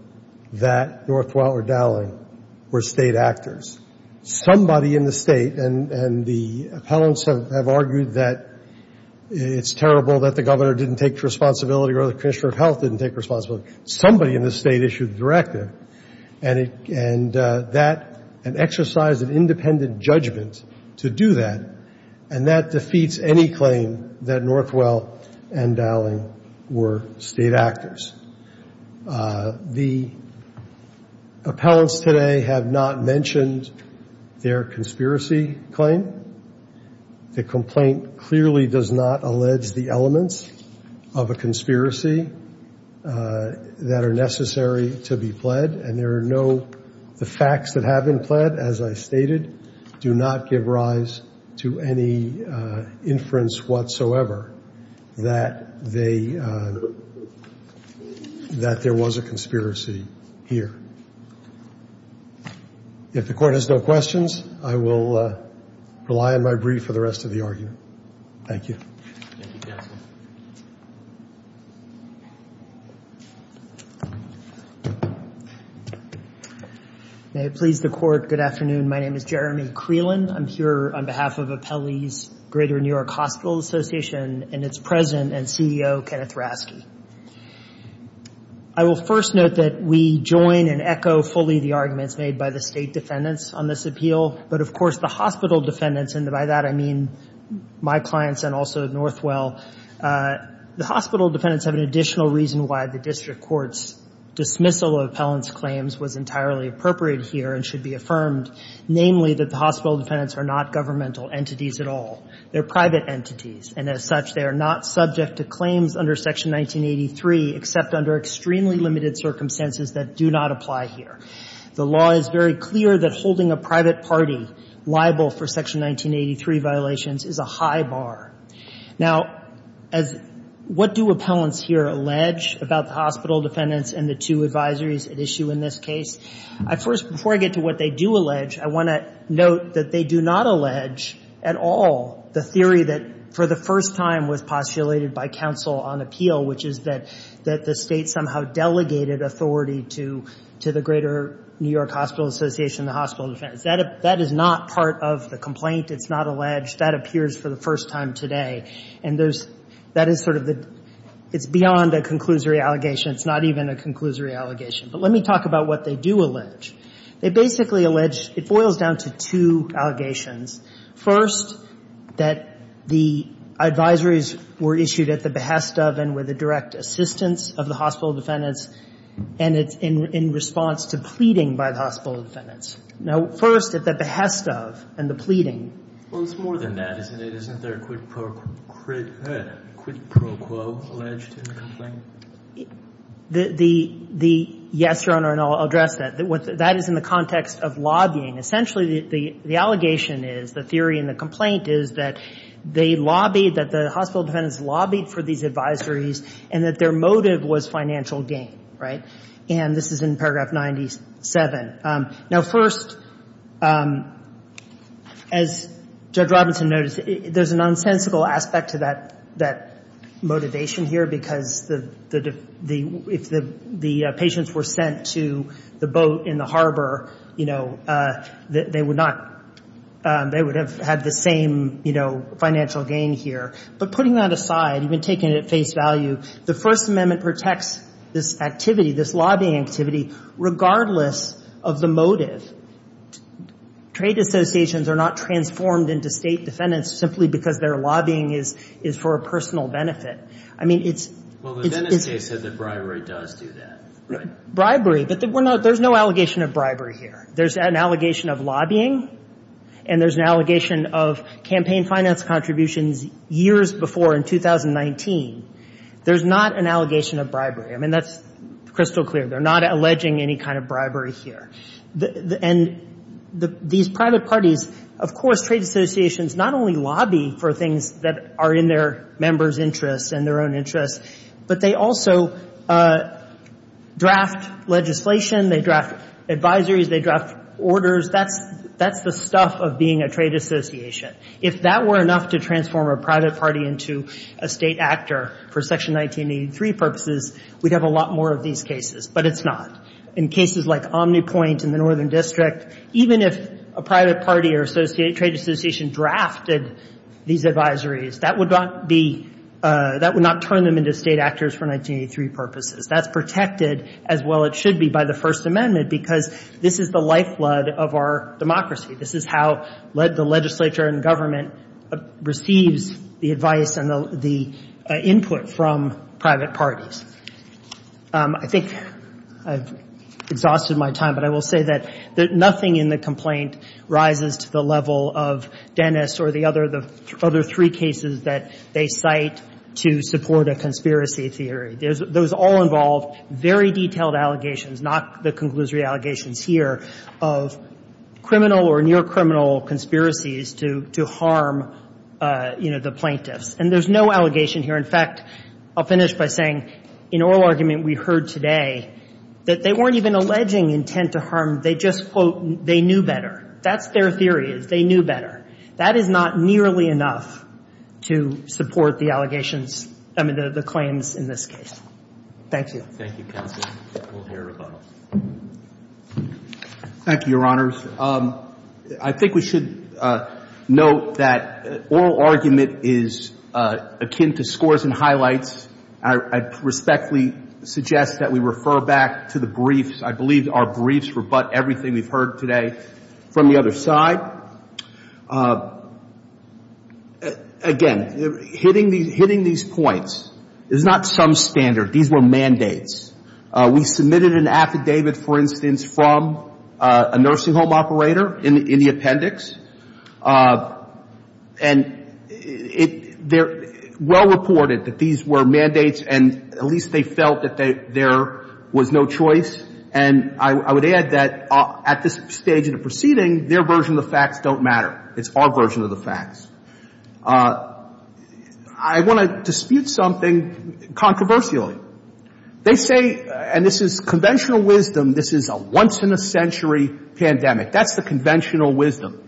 that Northwell or Dowling were state actors. Somebody in the state, and the appellants have argued that it's terrible that the governor didn't take responsibility or the commissioner of health didn't take responsibility. Somebody in the state issued the directive, and that, an exercise of independent judgment to do that, and that defeats any claim that Northwell and Dowling were state actors. The appellants today have not mentioned their conspiracy claim. The complaint clearly does not allege the elements of a conspiracy that are necessary to be pled, and there are no facts that have been pled, as I stated, do not give rise to any inference whatsoever that there was a conspiracy here. If the court has no questions, I will rely on my brief for the rest of the argument. Thank you. Thank you, counsel. May it please the court, good afternoon. My name is Jeremy Creelan. I'm here on behalf of Apelli's Greater New York Hospital Association and its president and CEO, Kenneth Rasky. I will first note that we join and echo fully the arguments made by the state defendants on this appeal, but, of course, the hospital defendants, and by that I mean my clients and also Northwell, the hospital defendants have an additional reason why the district court's dismissal of appellants' claims was entirely appropriate here and should be affirmed, namely, that the hospital defendants are not governmental entities at all. They're private entities, and as such, they are not subject to claims under Section 1983 except under extremely limited circumstances that do not apply here. The law is very clear that holding a private party liable for Section 1983 violations is a high bar. Now, as what do appellants here allege about the hospital defendants and the two advisories at issue in this case? First, before I get to what they do allege, I want to note that they do not allege at all the theory that for the first time was postulated by counsel on appeal, which is that the state somehow delegated authority to the Greater New York Hospital Association and the hospital defendants. That is not part of the complaint. It's not alleged. That appears for the first time today, and that is sort of the – it's beyond a conclusory allegation. It's not even a conclusory allegation. But let me talk about what they do allege. They basically allege – it boils down to two allegations. First, that the advisories were issued at the behest of and with the direct assistance of the hospital defendants, and it's in response to pleading by the hospital defendants. Now, first, at the behest of and the pleading. Well, it's more than that, isn't it? Isn't there a quid pro quo alleged in the complaint? The – yes, Your Honor, and I'll address that. That is in the context of lobbying. Essentially, the allegation is, the theory in the complaint is that they lobbied, that the hospital defendants lobbied for these advisories and that their motive was financial gain. Right? And this is in paragraph 97. Now, first, as Judge Robinson noted, there's an unsensical aspect to that motivation here because the – if the patients were sent to the boat in the harbor, you know, they would not – they would have had the same, you know, financial gain here. But putting that aside, even taking it at face value, the First Amendment protects this activity, this lobbying activity, regardless of the motive. Trade associations are not transformed into state defendants simply because their lobbying is for a personal benefit. I mean, it's – Well, the Venice case said that bribery does do that, right? Bribery, but we're not – there's no allegation of bribery here. There's an allegation of lobbying, and there's an allegation of campaign finance contributions years before in 2019. There's not an allegation of bribery. I mean, that's crystal clear. They're not alleging any kind of bribery here. And these private parties, of course, trade associations not only lobby for things that are in their members' interests and their own interests, but they also draft legislation, they draft advisories, they draft orders. That's the stuff of being a trade association. If that were enough to transform a private party into a state actor for Section 1983 purposes, we'd have a lot more of these cases, but it's not. In cases like Omnipoint in the Northern District, even if a private party or trade association drafted these advisories, that would not be – that would not turn them into state actors for 1983 purposes. That's protected as well it should be by the First Amendment because this is the lifeblood of our democracy. This is how the legislature and government receives the advice and the input from private parties. I think I've exhausted my time, but I will say that nothing in the complaint rises to the level of Dennis or the other three cases that they cite to support a conspiracy theory. Those all involve very detailed allegations, not the conclusory allegations here, of criminal or near criminal conspiracies to harm, you know, the plaintiffs. And there's no allegation here. In fact, I'll finish by saying in oral argument we heard today that they weren't even alleging intent to harm, they just, quote, they knew better. That's their theory is they knew better. That is not nearly enough to support the allegations – I mean, the claims in this case. Thank you. Thank you, Counsel. We'll hear about it. Thank you, Your Honors. I think we should note that oral argument is akin to scores and highlights. I respectfully suggest that we refer back to the briefs. I believe our briefs rebut everything we've heard today. From the other side, again, hitting these points is not some standard. These were mandates. We submitted an affidavit, for instance, from a nursing home operator in the appendix. And they're well-reported that these were mandates, and at least they felt that there was no choice. And I would add that at this stage in the proceeding, their version of the facts don't matter. It's our version of the facts. I want to dispute something controversially. They say, and this is conventional wisdom, this is a once-in-a-century pandemic. That's the conventional wisdom.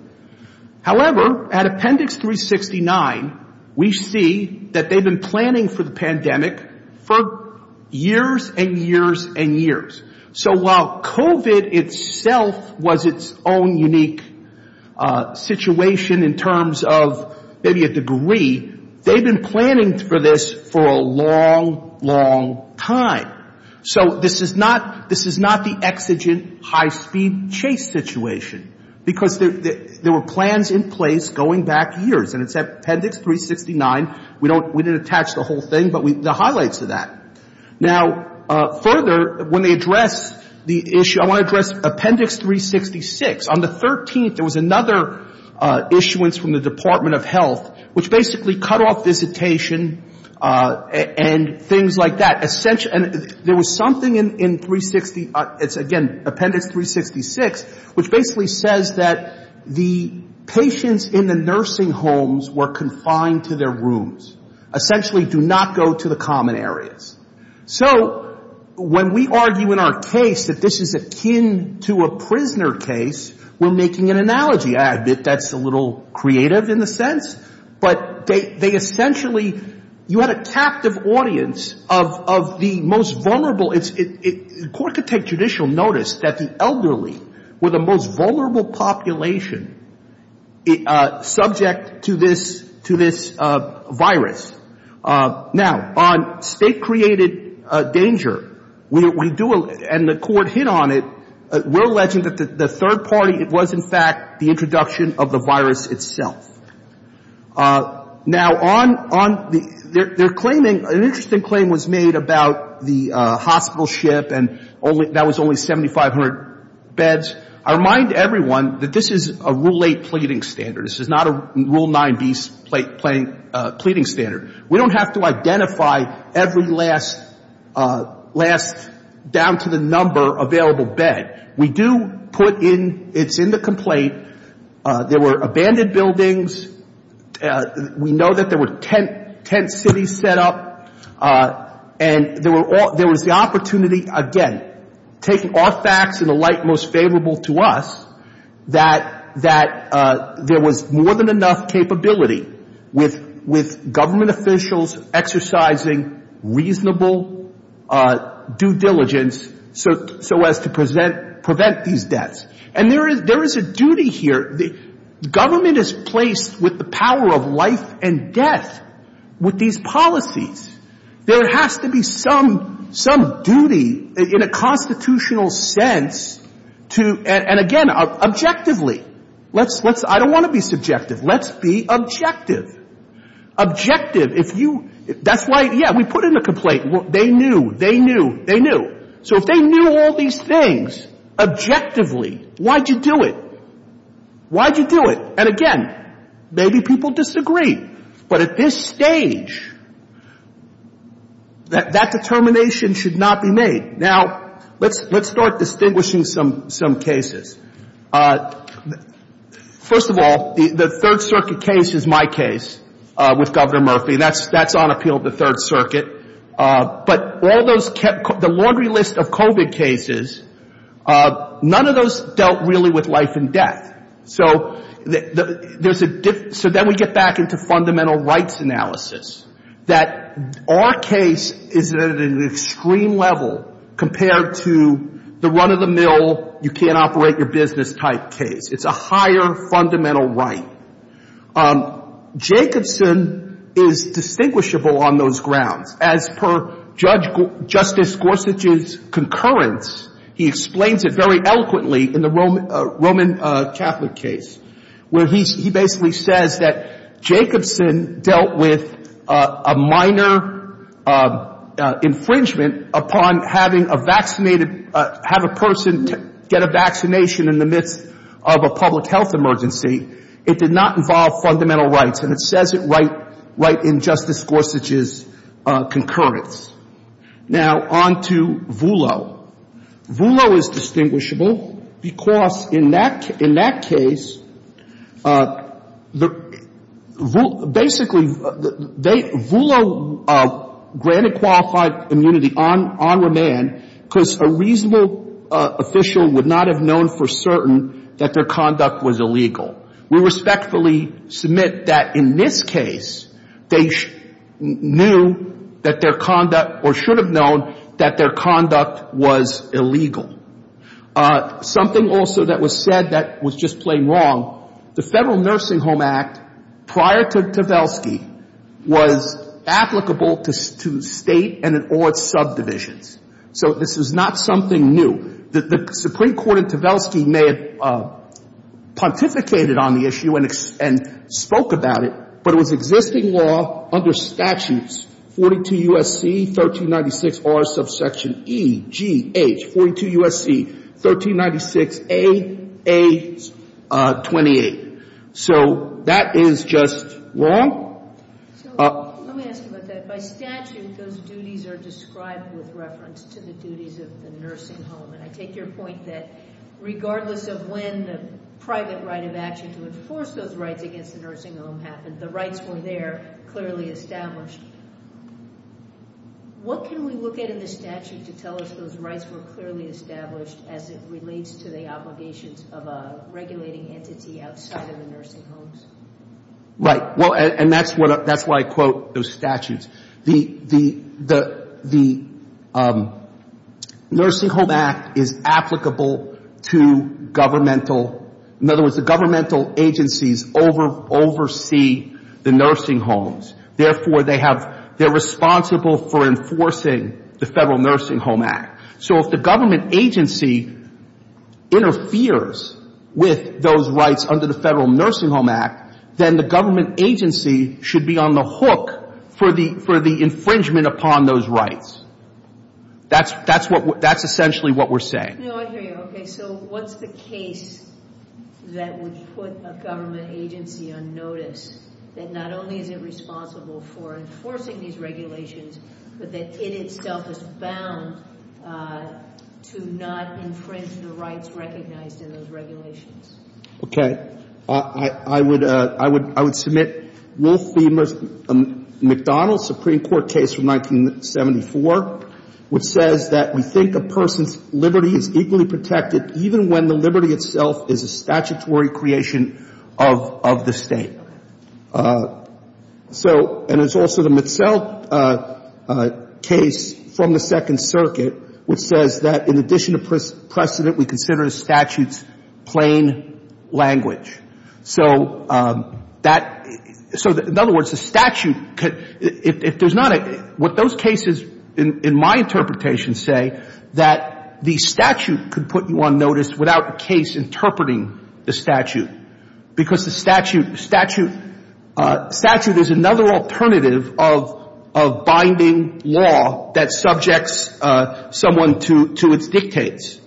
However, at Appendix 369, we see that they've been planning for the pandemic for years and years and years. So while COVID itself was its own unique situation in terms of maybe a degree, they've been planning for this for a long, long time. So this is not the exigent high-speed chase situation, because there were plans in place going back years. And it's Appendix 369. We didn't attach the whole thing, but the highlights of that. Now, further, when they address the issue, I want to address Appendix 366. On the 13th, there was another issuance from the Department of Health, which basically cut off visitation and things like that. And there was something in 360, again, Appendix 366, which basically says that the patients in the nursing homes were confined to their rooms, essentially do not go to the common areas. So when we argue in our case that this is akin to a prisoner case, we're making an analogy. I admit that's a little creative in a sense. But they essentially, you had a captive audience of the most vulnerable. The Court could take judicial notice that the elderly were the most vulnerable population subject to this virus. Now, on state-created danger, we do, and the Court hit on it, we're alleging that the third party was, in fact, the introduction of the virus itself. Now, on the, they're claiming, an interesting claim was made about the hospital ship, and that was only 7,500 beds. I remind everyone that this is a Rule 8 pleading standard. This is not a Rule 9b pleading standard. We don't have to identify every last, down to the number, available bed. We do put in, it's in the complaint, there were abandoned buildings, we know that there were tent cities set up, and there was the opportunity, again, taking all facts in the light most favorable to us, that there was more than enough capability with government officials exercising reasonable due diligence so as to prevent these deaths. And there is a duty here. Government is placed with the power of life and death with these policies. There has to be some duty in a constitutional sense to, and again, objectively. Let's, I don't want to be subjective. Let's be objective. Objective, if you, that's why, yeah, we put in a complaint. They knew, they knew, they knew. So if they knew all these things objectively, why'd you do it? Why'd you do it? And again, maybe people disagree. But at this stage, that determination should not be made. Now, let's start distinguishing some cases. First of all, the Third Circuit case is my case with Governor Murphy. That's on appeal at the Third Circuit. But all those, the laundry list of COVID cases, none of those dealt really with life and death. So there's a, so then we get back into fundamental rights analysis, that our case is at an extreme level compared to the run-of-the-mill, you can't operate your business type case. It's a higher fundamental right. Jacobson is distinguishable on those grounds. As per Judge, Justice Gorsuch's concurrence, he explains it very eloquently in the Roman Catholic case, where he basically says that Jacobson dealt with a minor infringement upon having a vaccinated, have a person get a vaccination in the midst of a public health emergency it did not involve fundamental rights. And it says it right in Justice Gorsuch's concurrence. Now, on to Voolo. Voolo is distinguishable because in that case, basically they, Voolo granted qualified immunity on remand because a reasonable official would not have known for certain that their conduct was illegal. We respectfully submit that in this case, they knew that their conduct or should have known that their conduct was illegal. Something also that was said that was just plain wrong, the Federal Nursing Home Act prior to Tavelsky was applicable to state and in all its subdivisions. So this is not something new. The Supreme Court in Tavelsky may have pontificated on the issue and spoke about it, but it was existing law under statutes 42 U.S.C. 1396R subsection E.G.H. 42 U.S.C. 1396A.A.28. So that is just wrong. Let me ask you about that. By statute, those duties are described with reference to the duties of the nursing home. And I take your point that regardless of when the private right of action to enforce those rights against the nursing home happened, the rights were there, clearly established. What can we look at in the statute to tell us those rights were clearly established as it relates to the obligations of a regulating entity outside of the nursing homes? Right. And that's why I quote those statutes. The Nursing Home Act is applicable to governmental, in other words, the governmental agencies oversee the nursing homes. Therefore, they have, they're responsible for enforcing the Federal Nursing Home Act. So if the government agency interferes with those rights under the Federal Nursing Home Act, then the government agency should be on the hook for the infringement upon those rights. That's essentially what we're saying. No, I hear you. Okay. So what's the case that would put a government agency on notice, that not only is it responsible for enforcing these regulations, but that it itself is bound to not infringe the rights recognized in those regulations? Okay. I would submit Wolfe v. McDonald's Supreme Court case from 1974, which says that we think a person's liberty is equally protected even when the liberty itself is a statutory creation of the State. So, and it's also the Mitzell case from the Second Circuit, which says that in addition to precedent, we consider the statute's plain language. So that, so in other words, the statute could, if there's not a, what those cases in my interpretation say, that the statute could put you on notice without the case interpreting the statute, because the statute is another alternative of binding law that subjects someone to its dictates.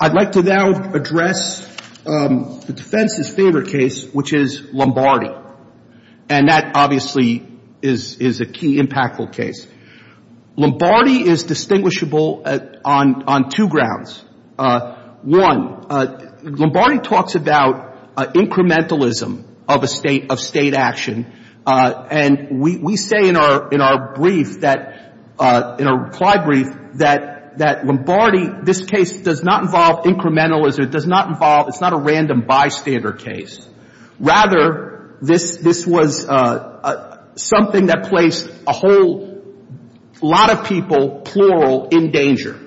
I'd like to now address the defense's favorite case, which is Lombardi. And that obviously is a key impactful case. Lombardi is distinguishable on two grounds. One, Lombardi talks about incrementalism of a State, of State action. And we say in our brief that, in our reply brief, that Lombardi, this case does not involve incrementalism. It does not involve, it's not a random bystander case. Rather, this was something that placed a whole lot of people, plural, in danger.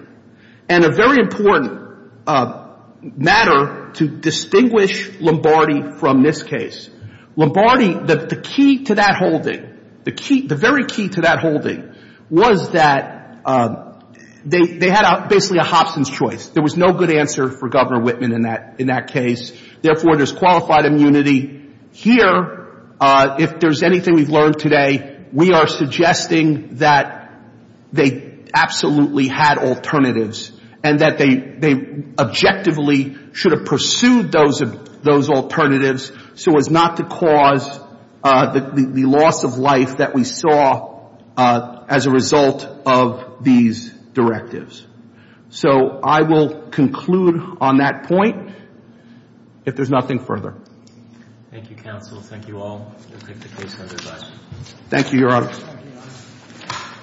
And a very important matter to distinguish Lombardi from this case. Lombardi, the key to that holding, the key, the very key to that holding, was that they had basically a Hobson's choice. There was no good answer for Governor Whitman in that case. Therefore, there's qualified immunity here. If there's anything we've learned today, we are suggesting that they absolutely had alternatives and that they objectively should have pursued those alternatives so as not to cause the loss of life that we saw as a result of these directives. So I will conclude on that point. If there's nothing further. Thank you, counsel. Thank you all. We'll take the case under review. Thank you, Your Honor.